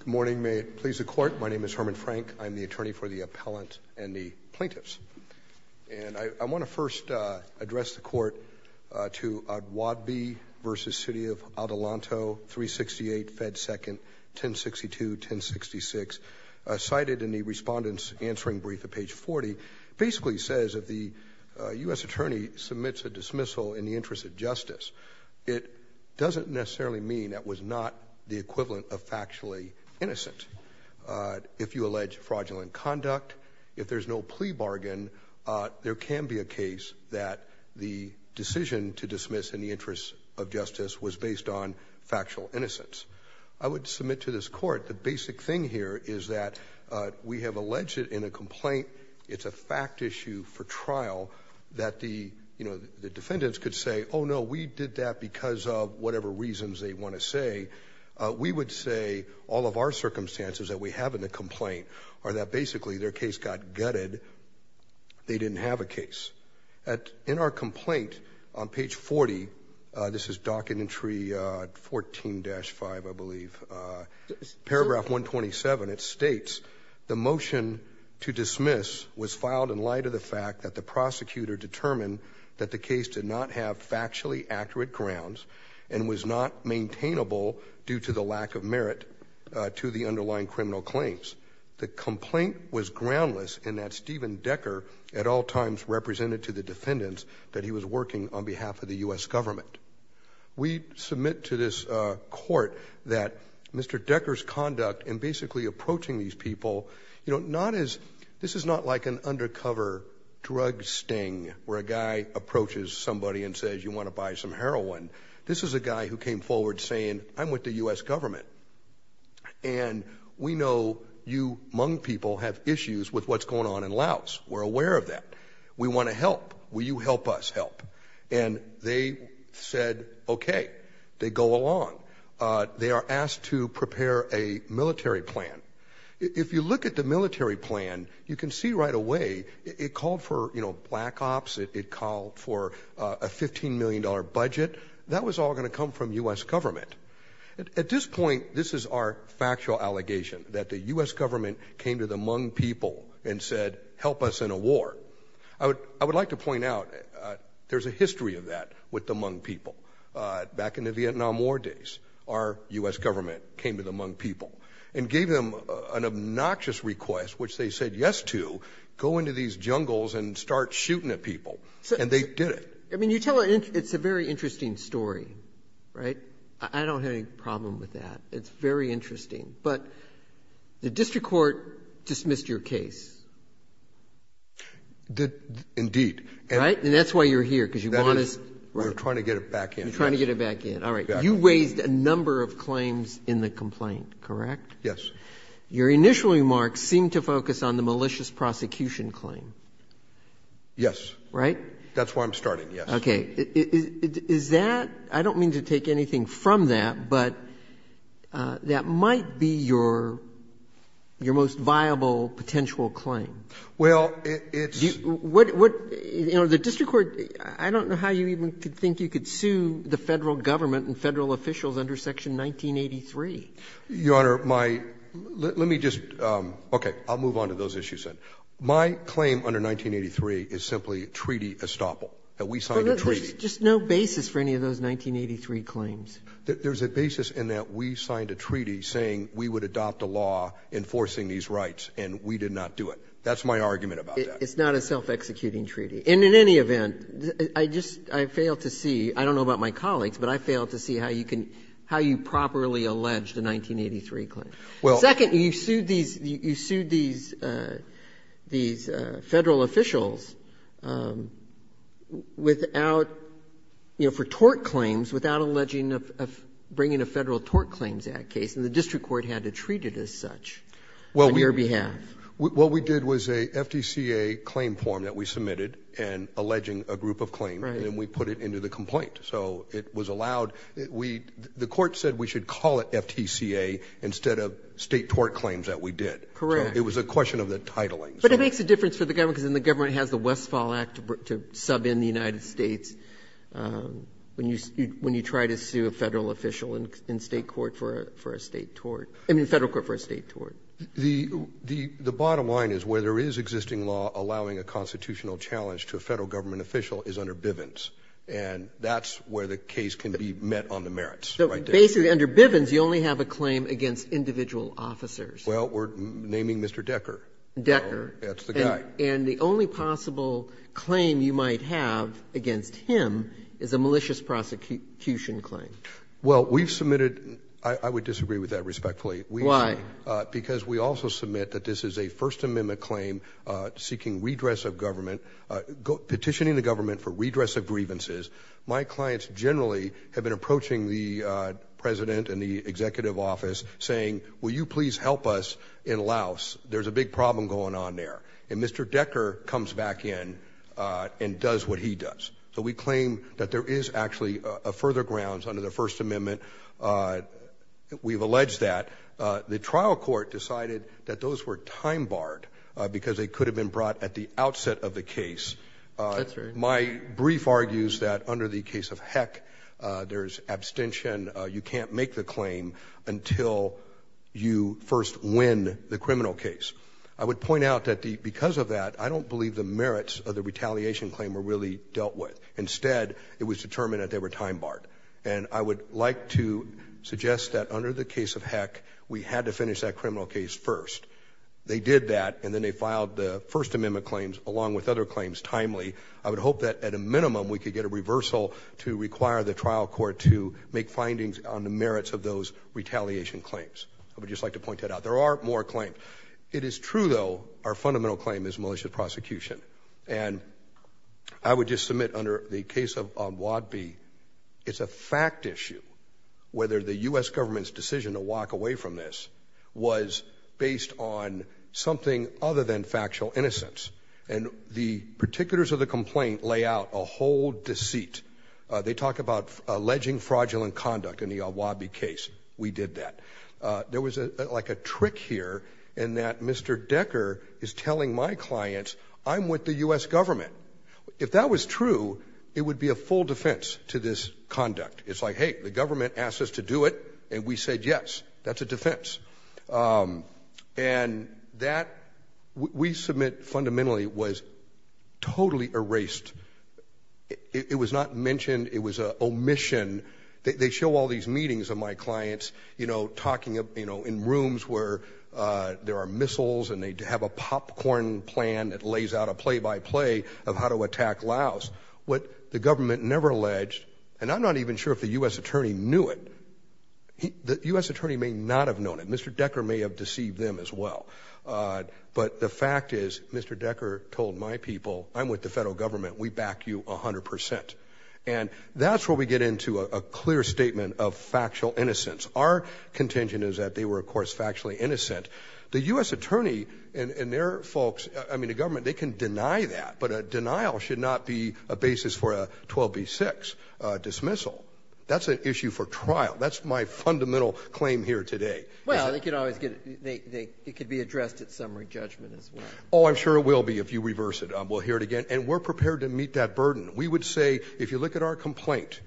Good morning. May it please the court. My name is Herman Frank. I'm the attorney for the appellant and the plaintiffs. And I want to first address the court to O'Dwadby v. City of Adelanto, 368 Fed 2nd, 1062-1066, cited in the Respondent's Answering Brief at page 40, basically says if the U.S. attorney submits a dismissal in the interest of justice, it doesn't necessarily mean that was not the equivalent of factually innocent. If you allege fraudulent conduct, if there's no plea bargain, there can be a case that the decision to dismiss in the interest of justice was based on factual innocence. I would submit to this court, the basic thing here is that we have alleged in a complaint, it's a fact issue for trial, that the defendants could say, oh, no, we did that because of whatever reasons they want to say. We would say all of our circumstances that we have in the complaint are that basically their case got gutted. They didn't have a case. In our complaint on page 40, this is documentary 14-5, I believe, paragraph 127, it states the motion to dismiss was filed in light of the fact that the prosecutor determined that the case did not have factually accurate grounds and was not maintainable due to the lack of merit to the underlying criminal claims. The complaint was groundless in that Stephen Decker at all times represented to the defendants that he was working on behalf of the U.S. government. We submit to this court that Mr. Decker's conduct in basically approaching these people, this is not like an undercover drug sting where a guy approaches somebody and says you want to buy some heroin. This is a guy who came forward saying I'm with the U.S. government. And we know you Hmong people have issues with what's going on in Laos. We're aware of that. We want to help. Will you help us help? And they said, okay. They go along. They are asked to prepare a military plan. If you look at the military plan, you can see right away it called for, you know, black ops. It called for a $15 million budget. That was all going to come from U.S. government. At this point, this is our factual allegation that the U.S. government came to the Hmong people and said help us in a war. I would like to point out there's a history of that with the Hmong people. Back in the Vietnam War days, our U.S. government came to the Hmong people and gave them an obnoxious request which they said yes to, go into these jungles and start shooting at people. And they did it. I mean, you tell it's a very interesting story, right? I don't have any problem with that. It's very interesting. But the district court dismissed your case. Indeed. Right? And that's why you're here. We're trying to get it back in. You're trying to get it back in. All right. You raised a number of claims in the complaint, correct? Yes. Your initial remarks seemed to focus on the malicious prosecution claim. Yes. Right? That's why I'm starting, yes. Okay. Is that, I don't mean to take anything from that, but that might be your most viable potential claim. Well, it's... The district court, I don't know how you even could think you could sue the federal government and federal officials under section 1983. Your Honor, my, let me just, okay, I'll move on to those issues then. My claim under 1983 is simply a treaty estoppel, that we signed a treaty. There's just no basis for any of those 1983 claims. There's a basis in that we signed a treaty saying we would adopt a law enforcing these rights, and we did not do it. That's my argument about that. It's not a self-executing treaty. And in any event, I just, I failed to see, I don't know about my colleagues, but I failed to see how you can, how you properly allege the 1983 claim. Well... Second, you sued these, you sued these, these federal officials without, you know, for tort claims, without alleging of bringing a Federal Tort Claims Act case, and the district court had to treat it as such on your behalf. Well, what we did was a FTCA claim form that we submitted and alleging a group of claims, and then we put it into the complaint. So it was allowed, we, the court said we should call it FTCA instead of state tort claims that we did. Correct. It was a question of the titling. But it makes a difference for the government, because then the government has the Westfall Act to sub in the United States when you, when you try to sue a Federal official in state court for a state tort, I mean Federal court for a state tort. The, the bottom line is where there is existing law allowing a constitutional challenge to a Federal government official is under Bivens, and that's where the case can be met on the merits, right there. So basically under Bivens, you only have a claim against individual officers. Well, we're naming Mr. Decker. Decker. That's the guy. And the only possible claim you might have against him is a malicious prosecution claim. Well, we've submitted, I would disagree with that respectfully. Why? Because we also submit that this is a First Amendment claim seeking redress of government, petitioning the government for redress of grievances. My clients generally have been approaching the president and the executive office saying, will you please help us in Laos? There's a big problem going on there. And Mr. Decker comes back in and does what he does. So we claim that there is actually a further grounds under the First Amendment. We've alleged that. The trial court decided that those were time barred because they could have been brought at the outset of the case. That's right. My brief argues that under the case of Heck, there's abstention. You can't make the claim until you first win the criminal case. I would point out that because of that, I don't believe the merits of the retaliation claim were really dealt with. Instead, it was determined that they were time barred. And I would like to suggest that under the case of Heck, we had to finish that criminal case first. They did that, and then they filed the First Amendment claims along with other claims timely. I would hope that at a minimum, we could get a reversal to require the trial court to make findings on the merits of those retaliation claims. I would just like to point that out. There are more claims. It is true, though, our fundamental claim is malicious prosecution. And I would just submit under the case of Wad B, it's a fact issue whether the U.S. government's decision to walk away from this was based on something other than malicious prosecution. And the particulars of the complaint lay out a whole deceit. They talk about alleging fraudulent conduct in the Wad B case. We did that. There was like a trick here in that Mr. Decker is telling my clients, I'm with the U.S. government. If that was true, it would be a full defense to this conduct. It's like, hey, the government asked us to do it, and we said yes. That's a defense. And that, we submit fundamentally, was totally erased. It was not mentioned. It was an omission. They show all these meetings of my clients, you know, talking in rooms where there are missiles and they have a popcorn plan that lays out a play-by-play of how to attack Laos. What the government never alleged, and I'm not even the U.S. attorney knew it. The U.S. attorney may not have known it. Mr. Decker may have deceived them as well. But the fact is, Mr. Decker told my people, I'm with the federal government. We back you 100%. And that's where we get into a clear statement of factual innocence. Our contingent is that they were, of course, factually innocent. The U.S. attorney and their folks, I mean, the government, they can deny that, but a denial should not be a basis for a 12B6 dismissal. That's an issue for trial. That's my fundamental claim here today. Well, it could be addressed at summary judgment as well. Oh, I'm sure it will be if you reverse it. We'll hear it again. And we're prepared to meet that burden. We would say, if you look at our complaint,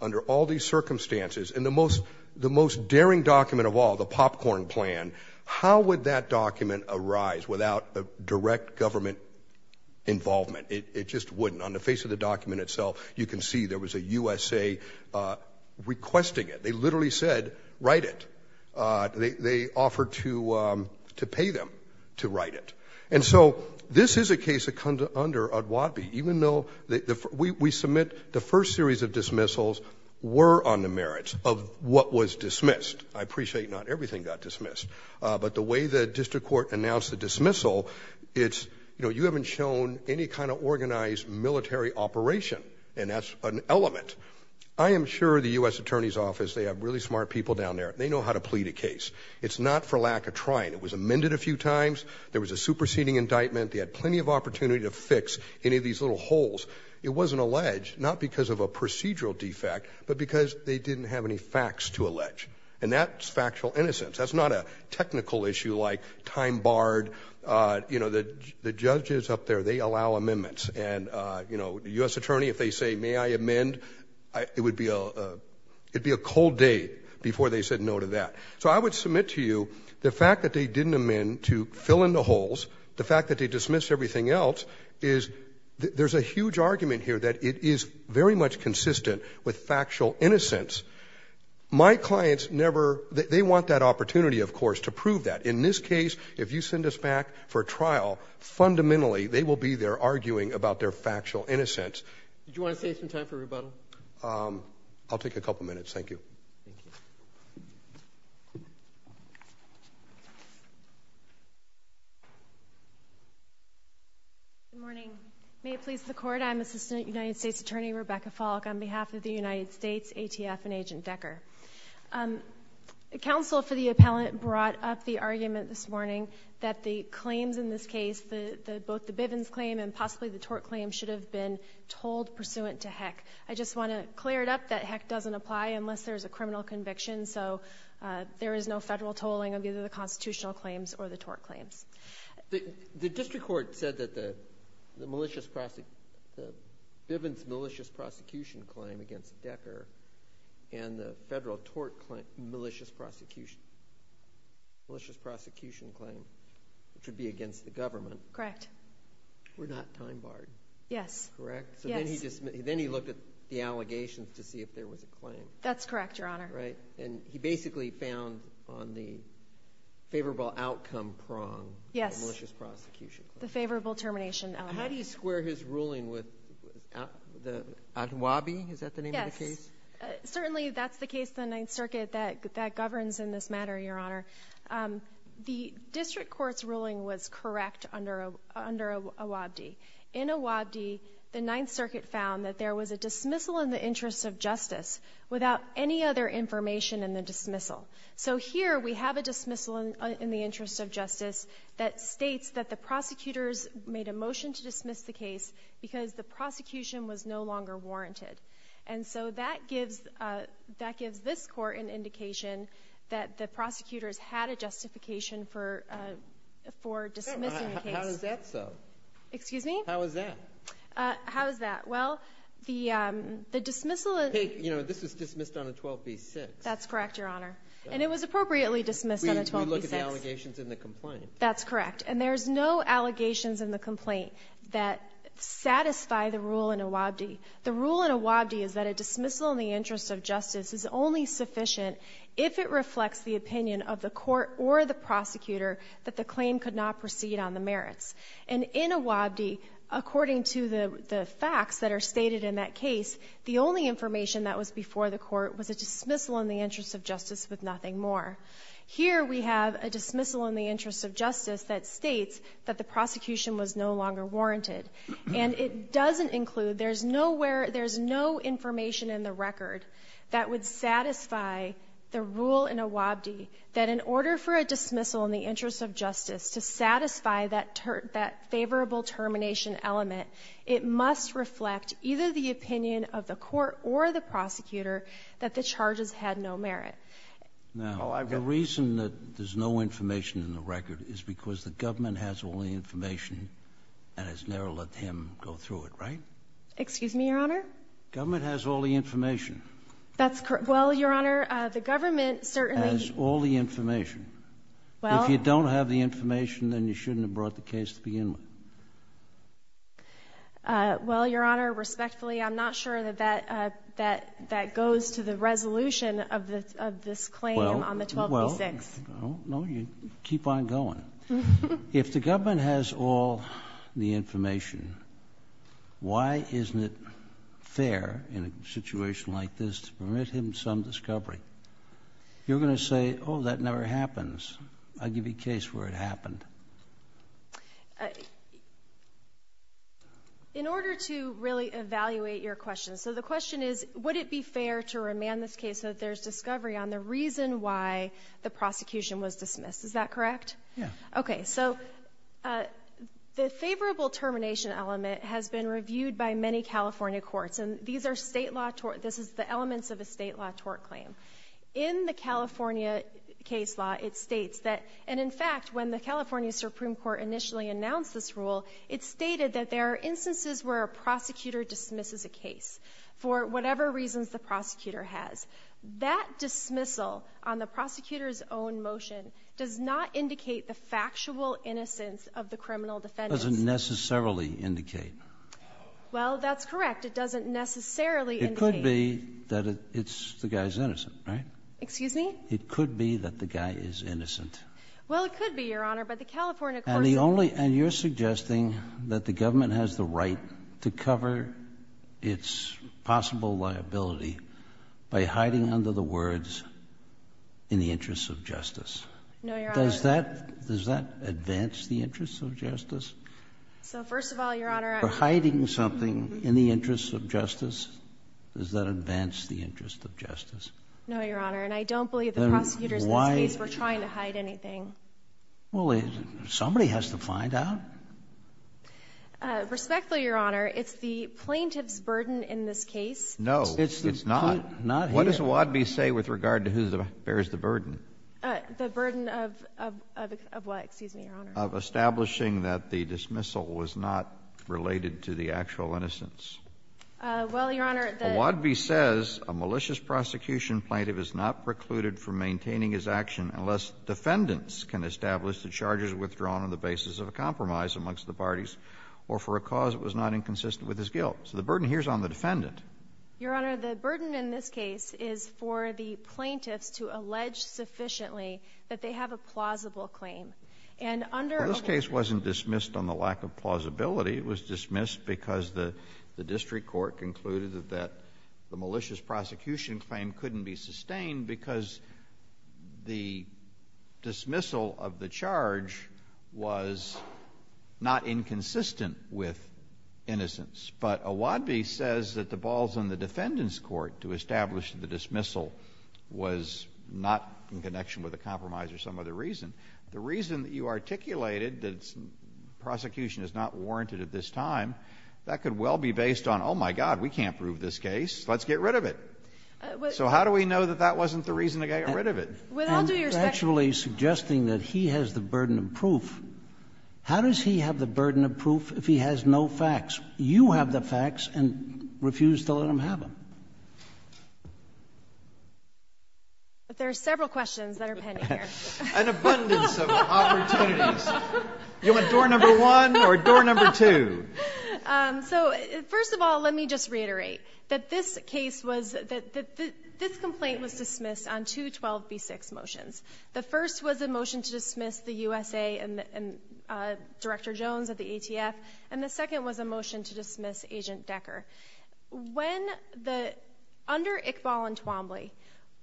under all these circumstances, and the most daring document of all, the popcorn plan, how would that document arise without direct government involvement? It just wouldn't. On the face of the document itself, you can see there was a USA requesting it. They literally said, write it. They offered to pay them to write it. And so this is a case that comes under O'Dwadley, even though we submit the first series of dismissals were on the merits of what was dismissed. I appreciate not everything got dismissed. But the way the district court announced the dismissal, it's, you haven't shown any kind of organized military operation. And that's an element. I am sure the U.S. Attorney's Office, they have really smart people down there. They know how to plead a case. It's not for lack of trying. It was amended a few times. There was a superseding indictment. They had plenty of opportunity to fix any of these little holes. It wasn't alleged, not because of a procedural defect, but because they didn't have any facts to allege. And that's factual innocence. That's not a technical issue like time barred. You know, the judges up there, they allow amendments. And, you know, U.S. Attorney, if they say, may I amend, it would be a cold day before they said no to that. So I would submit to you the fact that they didn't amend to fill in the holes, the fact that they dismissed everything else is, there's a huge argument here that it is very much consistent with factual innocence. My clients never, they want that opportunity, of course, to prove that. In this case, if you send us back for trial, fundamentally, they will be there arguing about their factual innocence. Did you want to save some time for rebuttal? I'll take a couple of minutes. Thank you. Good morning. May it please the court. I'm Assistant United States Attorney Rebecca Falk on behalf of the United States ATF and Agent Decker. Counsel for the appellant brought up the argument this morning that the claims in this case, both the Bivens claim and possibly the Tork claim should have been told pursuant to heck. I just want to clear it up that heck doesn't apply unless there's a criminal conviction. So there is no federal tolling of either the constitutional claims or the Tork claims. The district court said that the malicious, the Bivens malicious claim against Decker and the federal Tork malicious prosecution claim should be against the government. Correct. We're not time barred. Yes. Correct? Yes. So then he looked at the allegations to see if there was a claim. That's correct, your honor. Right. And he basically found on the favorable outcome prong the malicious prosecution claim. The favorable termination How do you square his ruling with the Wabi? Is that the name of the case? Certainly that's the case. The Ninth Circuit that that governs in this matter, your honor. The district court's ruling was correct under a under a Wabi in a Wabi. The Ninth Circuit found that there was a dismissal in the interest of justice without any other information in the dismissal. So here we have a dismissal in the interest of justice that states that the prosecutors made a motion to dismiss the case because the prosecution was no longer warranted. And so that gives, uh, that gives this court an indication that the prosecutors had a justification for, uh, for dismissing the case. How is that so? Excuse me? How is that? Uh, how is that? Well, the, um, the dismissal, you know, this was dismissed on a 12B6. That's correct, your honor. And it was appropriately dismissed on a 12B6. We look at the allegations in the complaint. That's correct. And there's no allegations in the complaint that satisfy the rule in a Wabi. The rule in a Wabi is that a dismissal in the interest of justice is only sufficient if it reflects the opinion of the court or the prosecutor that the claim could not proceed on the merits. And in a Wabi, according to the facts that are stated in that case, the only information that was before the court was a dismissal in the interest of justice with nothing more. Here, we have a dismissal in the interest of justice that states that the prosecution was no longer warranted. And it doesn't include, there's nowhere, there's no information in the record that would satisfy the rule in a Wabi, that in order for a dismissal in the interest of justice to satisfy that favorable termination element, it must reflect either the opinion of the court or the prosecutor that the charges had no merit. Now, the reason that there's no information in the record is because the government has all the information and has never let him go through it, right? Excuse me, your honor. Government has all the information. That's correct. Well, your honor, the government certainly has all the information. Well, if you don't have the information, then you shouldn't have brought the case to begin with. Well, your honor, respectfully, I'm not sure that that goes to the resolution of this claim on the 12B-6. Well, no, you keep on going. If the government has all the information, why isn't it fair in a situation like this to permit him some discovery? You're going to say, oh, that never happens. I'll give you a case where it happened. In order to really evaluate your question, so the question is, would it be fair to remand this case so that there's discovery on the reason why the prosecution was dismissed? Is that correct? Yeah. Okay, so the favorable termination element has been reviewed by many California courts, and these are state law tort. This is the elements of a state law tort claim. In the California case law, it states that, and in fact, when the California Supreme Court initially announced this rule, it stated that there are instances where a prosecutor dismisses a case for whatever reasons the prosecutor has. That dismissal on the prosecutor's own motion does not indicate the factual innocence of the criminal defendants. It doesn't necessarily indicate. Well, that's correct. It doesn't necessarily indicate. It could be that it's the guy's innocent, right? Excuse me? It could be that the guy is innocent. Well, it could be, Your Honor, but the California courts- And the only, and you're suggesting that the government has the right to cover its possible liability by hiding under the words, in the interests of justice. No, Your Honor. Does that, does that advance the interests of justice? So first of all, Your Honor- For hiding something in the interests of justice, does that advance the interest of justice? No, Your Honor, and I don't believe the prosecutors in this case were trying to hide anything. Well, somebody has to find out. Respectfully, Your Honor, it's the plaintiff's burden in this case- No, it's not. What does Wadvey say with regard to who bears the burden? The burden of what, excuse me, Your Honor? Of establishing that the dismissal was not related to the actual innocence. Well, Your Honor, the- The prosecution plaintiff is not precluded from maintaining his action unless defendants can establish that charges are withdrawn on the basis of a compromise amongst the parties or for a cause that was not inconsistent with his guilt. So the burden here is on the defendant. Your Honor, the burden in this case is for the plaintiffs to allege sufficiently that they have a plausible claim. And under- Well, this case wasn't dismissed on the lack of plausibility. It was dismissed because the district court concluded that the malicious prosecution claim couldn't be sustained because the dismissal of the charge was not inconsistent with innocence. But Wadvey says that the balls on the defendant's court to establish the dismissal was not in connection with a compromise or some other reason. The reason that you articulated that prosecution is not warranted at this time, that could well be based on, oh, my God, we can't prove this case. Let's get rid of it. So how do we know that that wasn't the reason to get rid of it? And actually suggesting that he has the burden of proof. How does he have the burden of proof if he has no facts? You have the facts and refuse to let him have them. But there are several questions that are pending here. An abundance of opportunities. You want door number one or door number two? So first of all, let me just reiterate that this case was that this complaint was dismissed on two 12B6 motions. The first was a motion to dismiss the USA and Director Jones at the ATF. And the second was a motion to dismiss Agent Decker. When the under Iqbal and Twombly,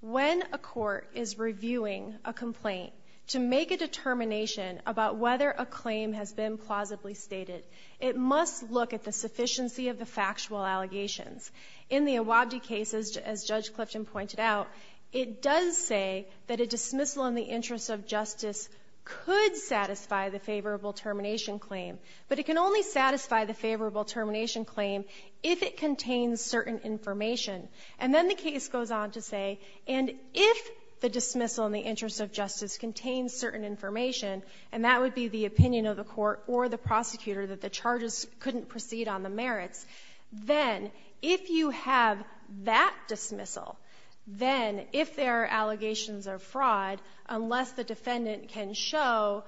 when a court is reviewing a complaint to make a determination about whether a claim has been plausibly stated, it must look at the sufficiency of the factual allegations. In the Awabdi case, as Judge Clifton pointed out, it does say that a dismissal in the interest of justice could satisfy the favorable termination claim, but it can only satisfy the favorable termination claim if it contains certain information. And then the case goes on to say, and if the dismissal in the interest of justice contains certain information, and that would be the opinion of the court or the prosecutor that the charges couldn't proceed on the merits, then if you have that dismissal, then if there are allegations of fraud, unless the defendant can show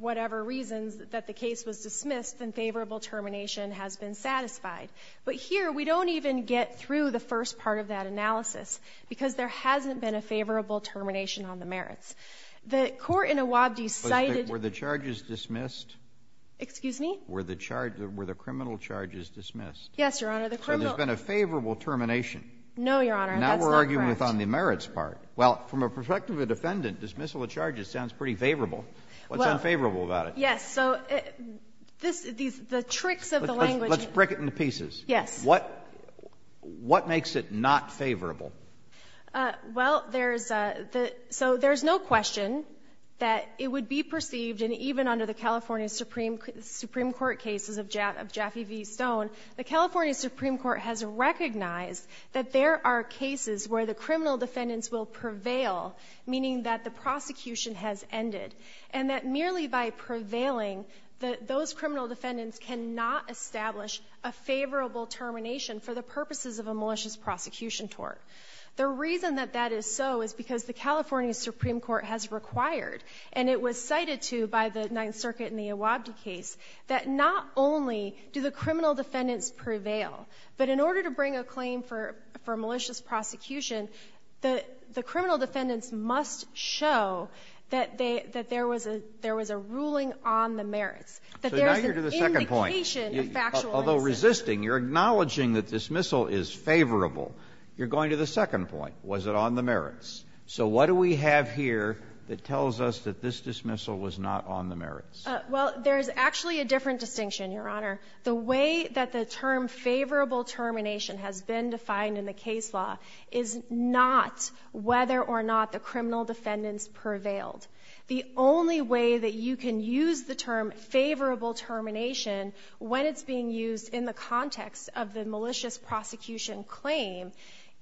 whatever reasons that the case was dismissed, then favorable termination has been satisfied. But here we don't even get through the first part of that analysis because there hasn't been a favorable termination on the merits. The court in Awabdi cited – Were the charges dismissed? Excuse me? Were the criminal charges dismissed? Yes, Your Honor. So there's been a favorable termination? No, Your Honor, that's not correct. Now we're arguing on the merits part. Well, from the perspective of a defendant, dismissal of charges sounds pretty favorable. What's unfavorable about it? Yes. So the tricks of the language – Let's break it into pieces. Yes. What makes it not favorable? Well, there's – so there's no question that it would be perceived, and even under the California Supreme Court cases of Jaffee v. Stone, the California Supreme Court has recognized that there are cases where the criminal defendants will prevail, meaning that the prosecution has ended, and that merely by prevailing, those criminal defendants cannot establish a favorable termination for the purposes of a malicious prosecution tort. The reason that that is so is because the California Supreme Court has required, and it was cited to by the Ninth Circuit in the Awabdi case, that not only do the criminal defendants prevail, but in order to bring a claim for malicious prosecution, the criminal defendants must show that they – that there was a – there was a ruling on the merits. So now you're to the second point, although resisting, you're acknowledging that dismissal is favorable, you're going to the second point. Was it on the merits? So what do we have here that tells us that this dismissal was not on the merits? Well, there's actually a different distinction, Your Honor. The way that the term favorable termination has been defined in the case law is not whether or not the criminal defendants prevailed. The only way that you can use the term favorable termination when it's being used in the context of the malicious prosecution claim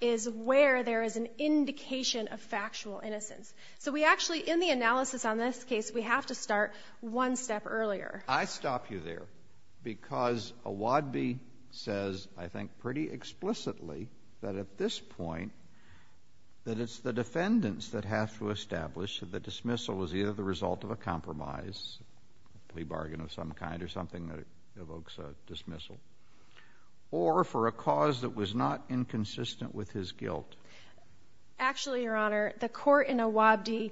is where there is an indication of factual innocence. So we actually, in the analysis on this case, we have to start one step earlier. I stop you there because Awabdi says, I think pretty explicitly, that at this point, that it's the defendants that have to establish that the dismissal was either the result of a compromise, plea bargain of some kind or something that evokes a dismissal, or for a cause that was not inconsistent with his guilt. Actually, Your Honor, the court in Awabdi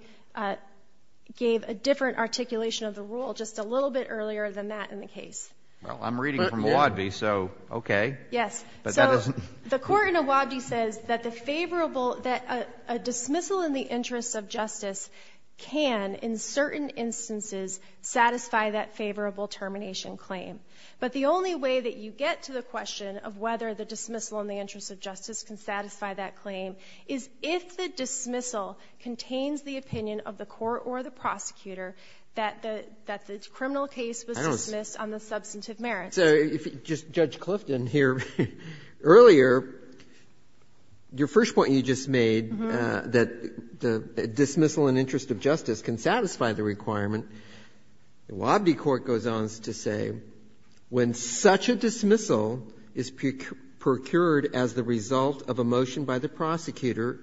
gave a different articulation of the rule just a little bit earlier than that in the case. Well, I'm reading from Awabdi, so okay. Yes. So the court in Awabdi says that a dismissal in the interest of justice can, in certain instances, satisfy that favorable termination claim. But the only way that you get to the question of whether the dismissal in the interest of justice can satisfy that claim is if the dismissal contains the opinion of the court or the prosecutor that the criminal case was dismissed on the substantive merits. So if you just judge Clifton here earlier, your first point you just made, that the Awabdi court goes on to say, when such a dismissal is procured as the result of a motion by the prosecutor,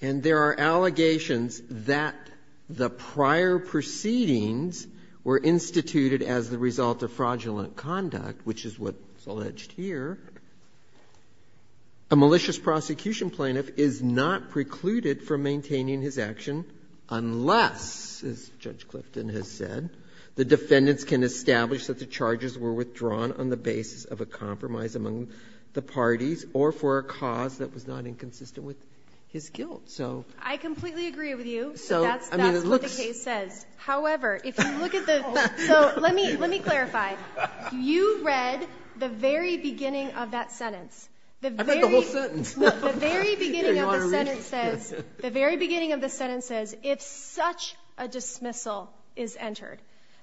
and there are allegations that the prior proceedings were instituted as the result of fraudulent conduct, which is what's alleged here, a malicious dismissal, as Judge Clifton has said, the defendants can establish that the charges were withdrawn on the basis of a compromise among the parties or for a cause that was not inconsistent with his guilt. So that's what the case says. However, if you look at the so let me let me clarify. You read the very beginning of that sentence. The very beginning of the sentence says, the very beginning of the sentence says, if such a dismissal is entered.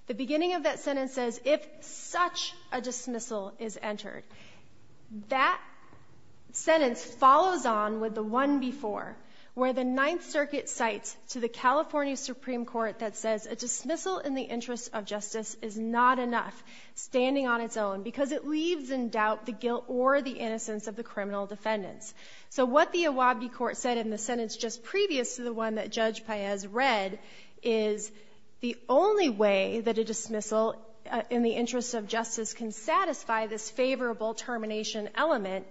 The beginning of that sentence says, if such a dismissal is entered. That sentence follows on with the one before, where the Ninth Circuit cites to the California Supreme Court that says a dismissal in the interest of justice is not enough standing on its own because it leaves in doubt the guilt or the innocence of the criminal defendants. So what the Iwabi court said in the sentence just previous to the one that Judge Paez read is the only way that a dismissal in the interest of justice can satisfy this favorable termination element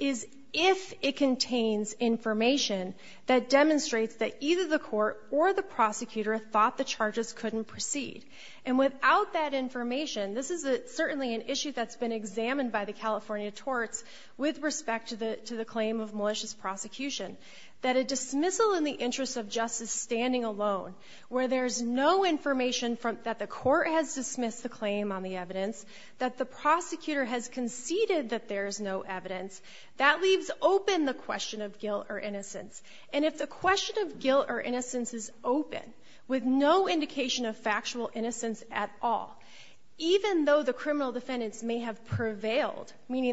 is if it contains information that demonstrates that either the court or the prosecutor thought the charges couldn't proceed. And without that information, this is certainly an issue that's been examined by the California torts with respect to the claim of malicious prosecution, that a dismissal in the interest of justice standing alone, where there's no information that the court has dismissed the claim on the evidence, that the prosecutor has conceded that there's no evidence, that leaves open the question of guilt or innocence. And if the question of guilt or innocence is open, with no indication of factual meaning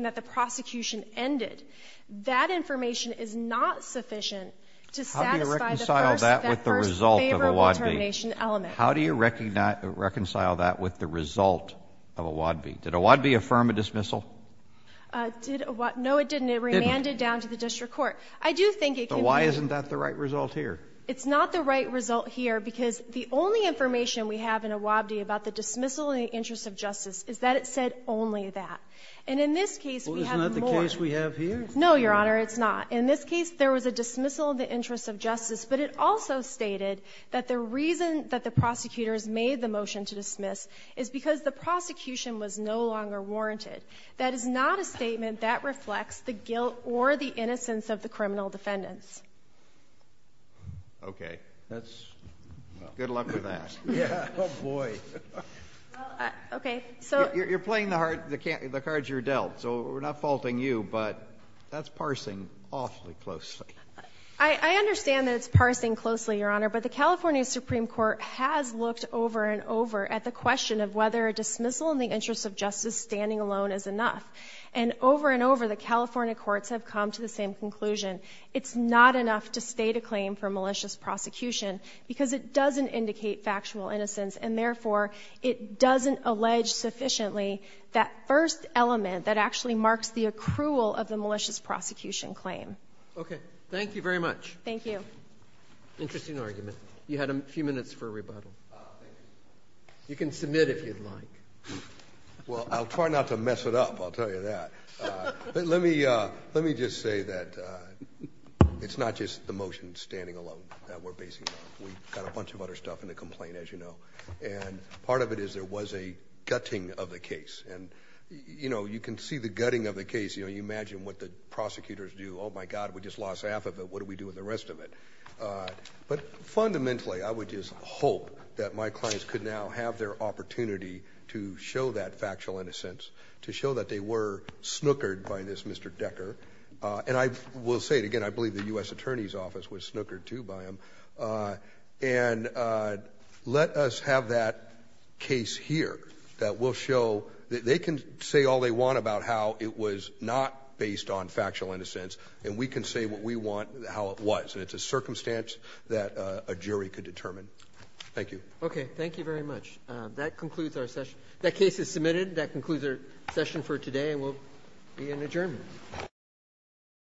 that the prosecution ended, that information is not sufficient to satisfy the first favorable termination element. How do you reconcile that with the result of Iwabi? Did Iwabi affirm a dismissal? No, it didn't. It remanded down to the district court. I do think it can be. But why isn't that the right result here? It's not the right result here because the only information we have in Iwabi about the dismissal in the interest of justice is that it said only that. And in this case, we have more. Well, isn't that the case we have here? No, Your Honor, it's not. In this case, there was a dismissal in the interest of justice, but it also stated that the reason that the prosecutors made the motion to dismiss is because the prosecution was no longer warranted. That is not a statement that reflects the guilt or the innocence of the criminal defendants. Okay. That's, well. Good luck with that. Yeah. Oh, boy. Okay, so. You're playing the cards you're dealt. So we're not faulting you, but that's parsing awfully closely. I understand that it's parsing closely, Your Honor. But the California Supreme Court has looked over and over at the question of whether a dismissal in the interest of justice standing alone is enough. And over and over, the California courts have come to the same conclusion. It's not enough to state a claim for malicious prosecution because it doesn't indicate factual innocence. And therefore, it doesn't allege sufficiently that first element that actually marks the accrual of the malicious prosecution claim. Okay. Thank you very much. Thank you. Interesting argument. You had a few minutes for rebuttal. You can submit if you'd like. Well, I'll try not to mess it up, I'll tell you that. Let me just say that it's not just the motion standing alone that we're basing on. We've got a bunch of other stuff in the complaint, as you know. And part of it is there was a gutting of the case. And you can see the gutting of the case. You imagine what the prosecutors do. Oh, my God, we just lost half of it. What do we do with the rest of it? But fundamentally, I would just hope that my clients could now have their opportunity to show that factual innocence, to show that they were snookered by this Mr. Decker. And I will say it again, I believe the US Attorney's Office was snookered too by him. And let us have that case here that will show that they can say all they want about how it was not based on factual innocence. And we can say what we want, how it was. And it's a circumstance that a jury could determine. Thank you. Okay, thank you very much. That concludes our session. That case is submitted. That concludes our session for today, and we'll be in adjournment.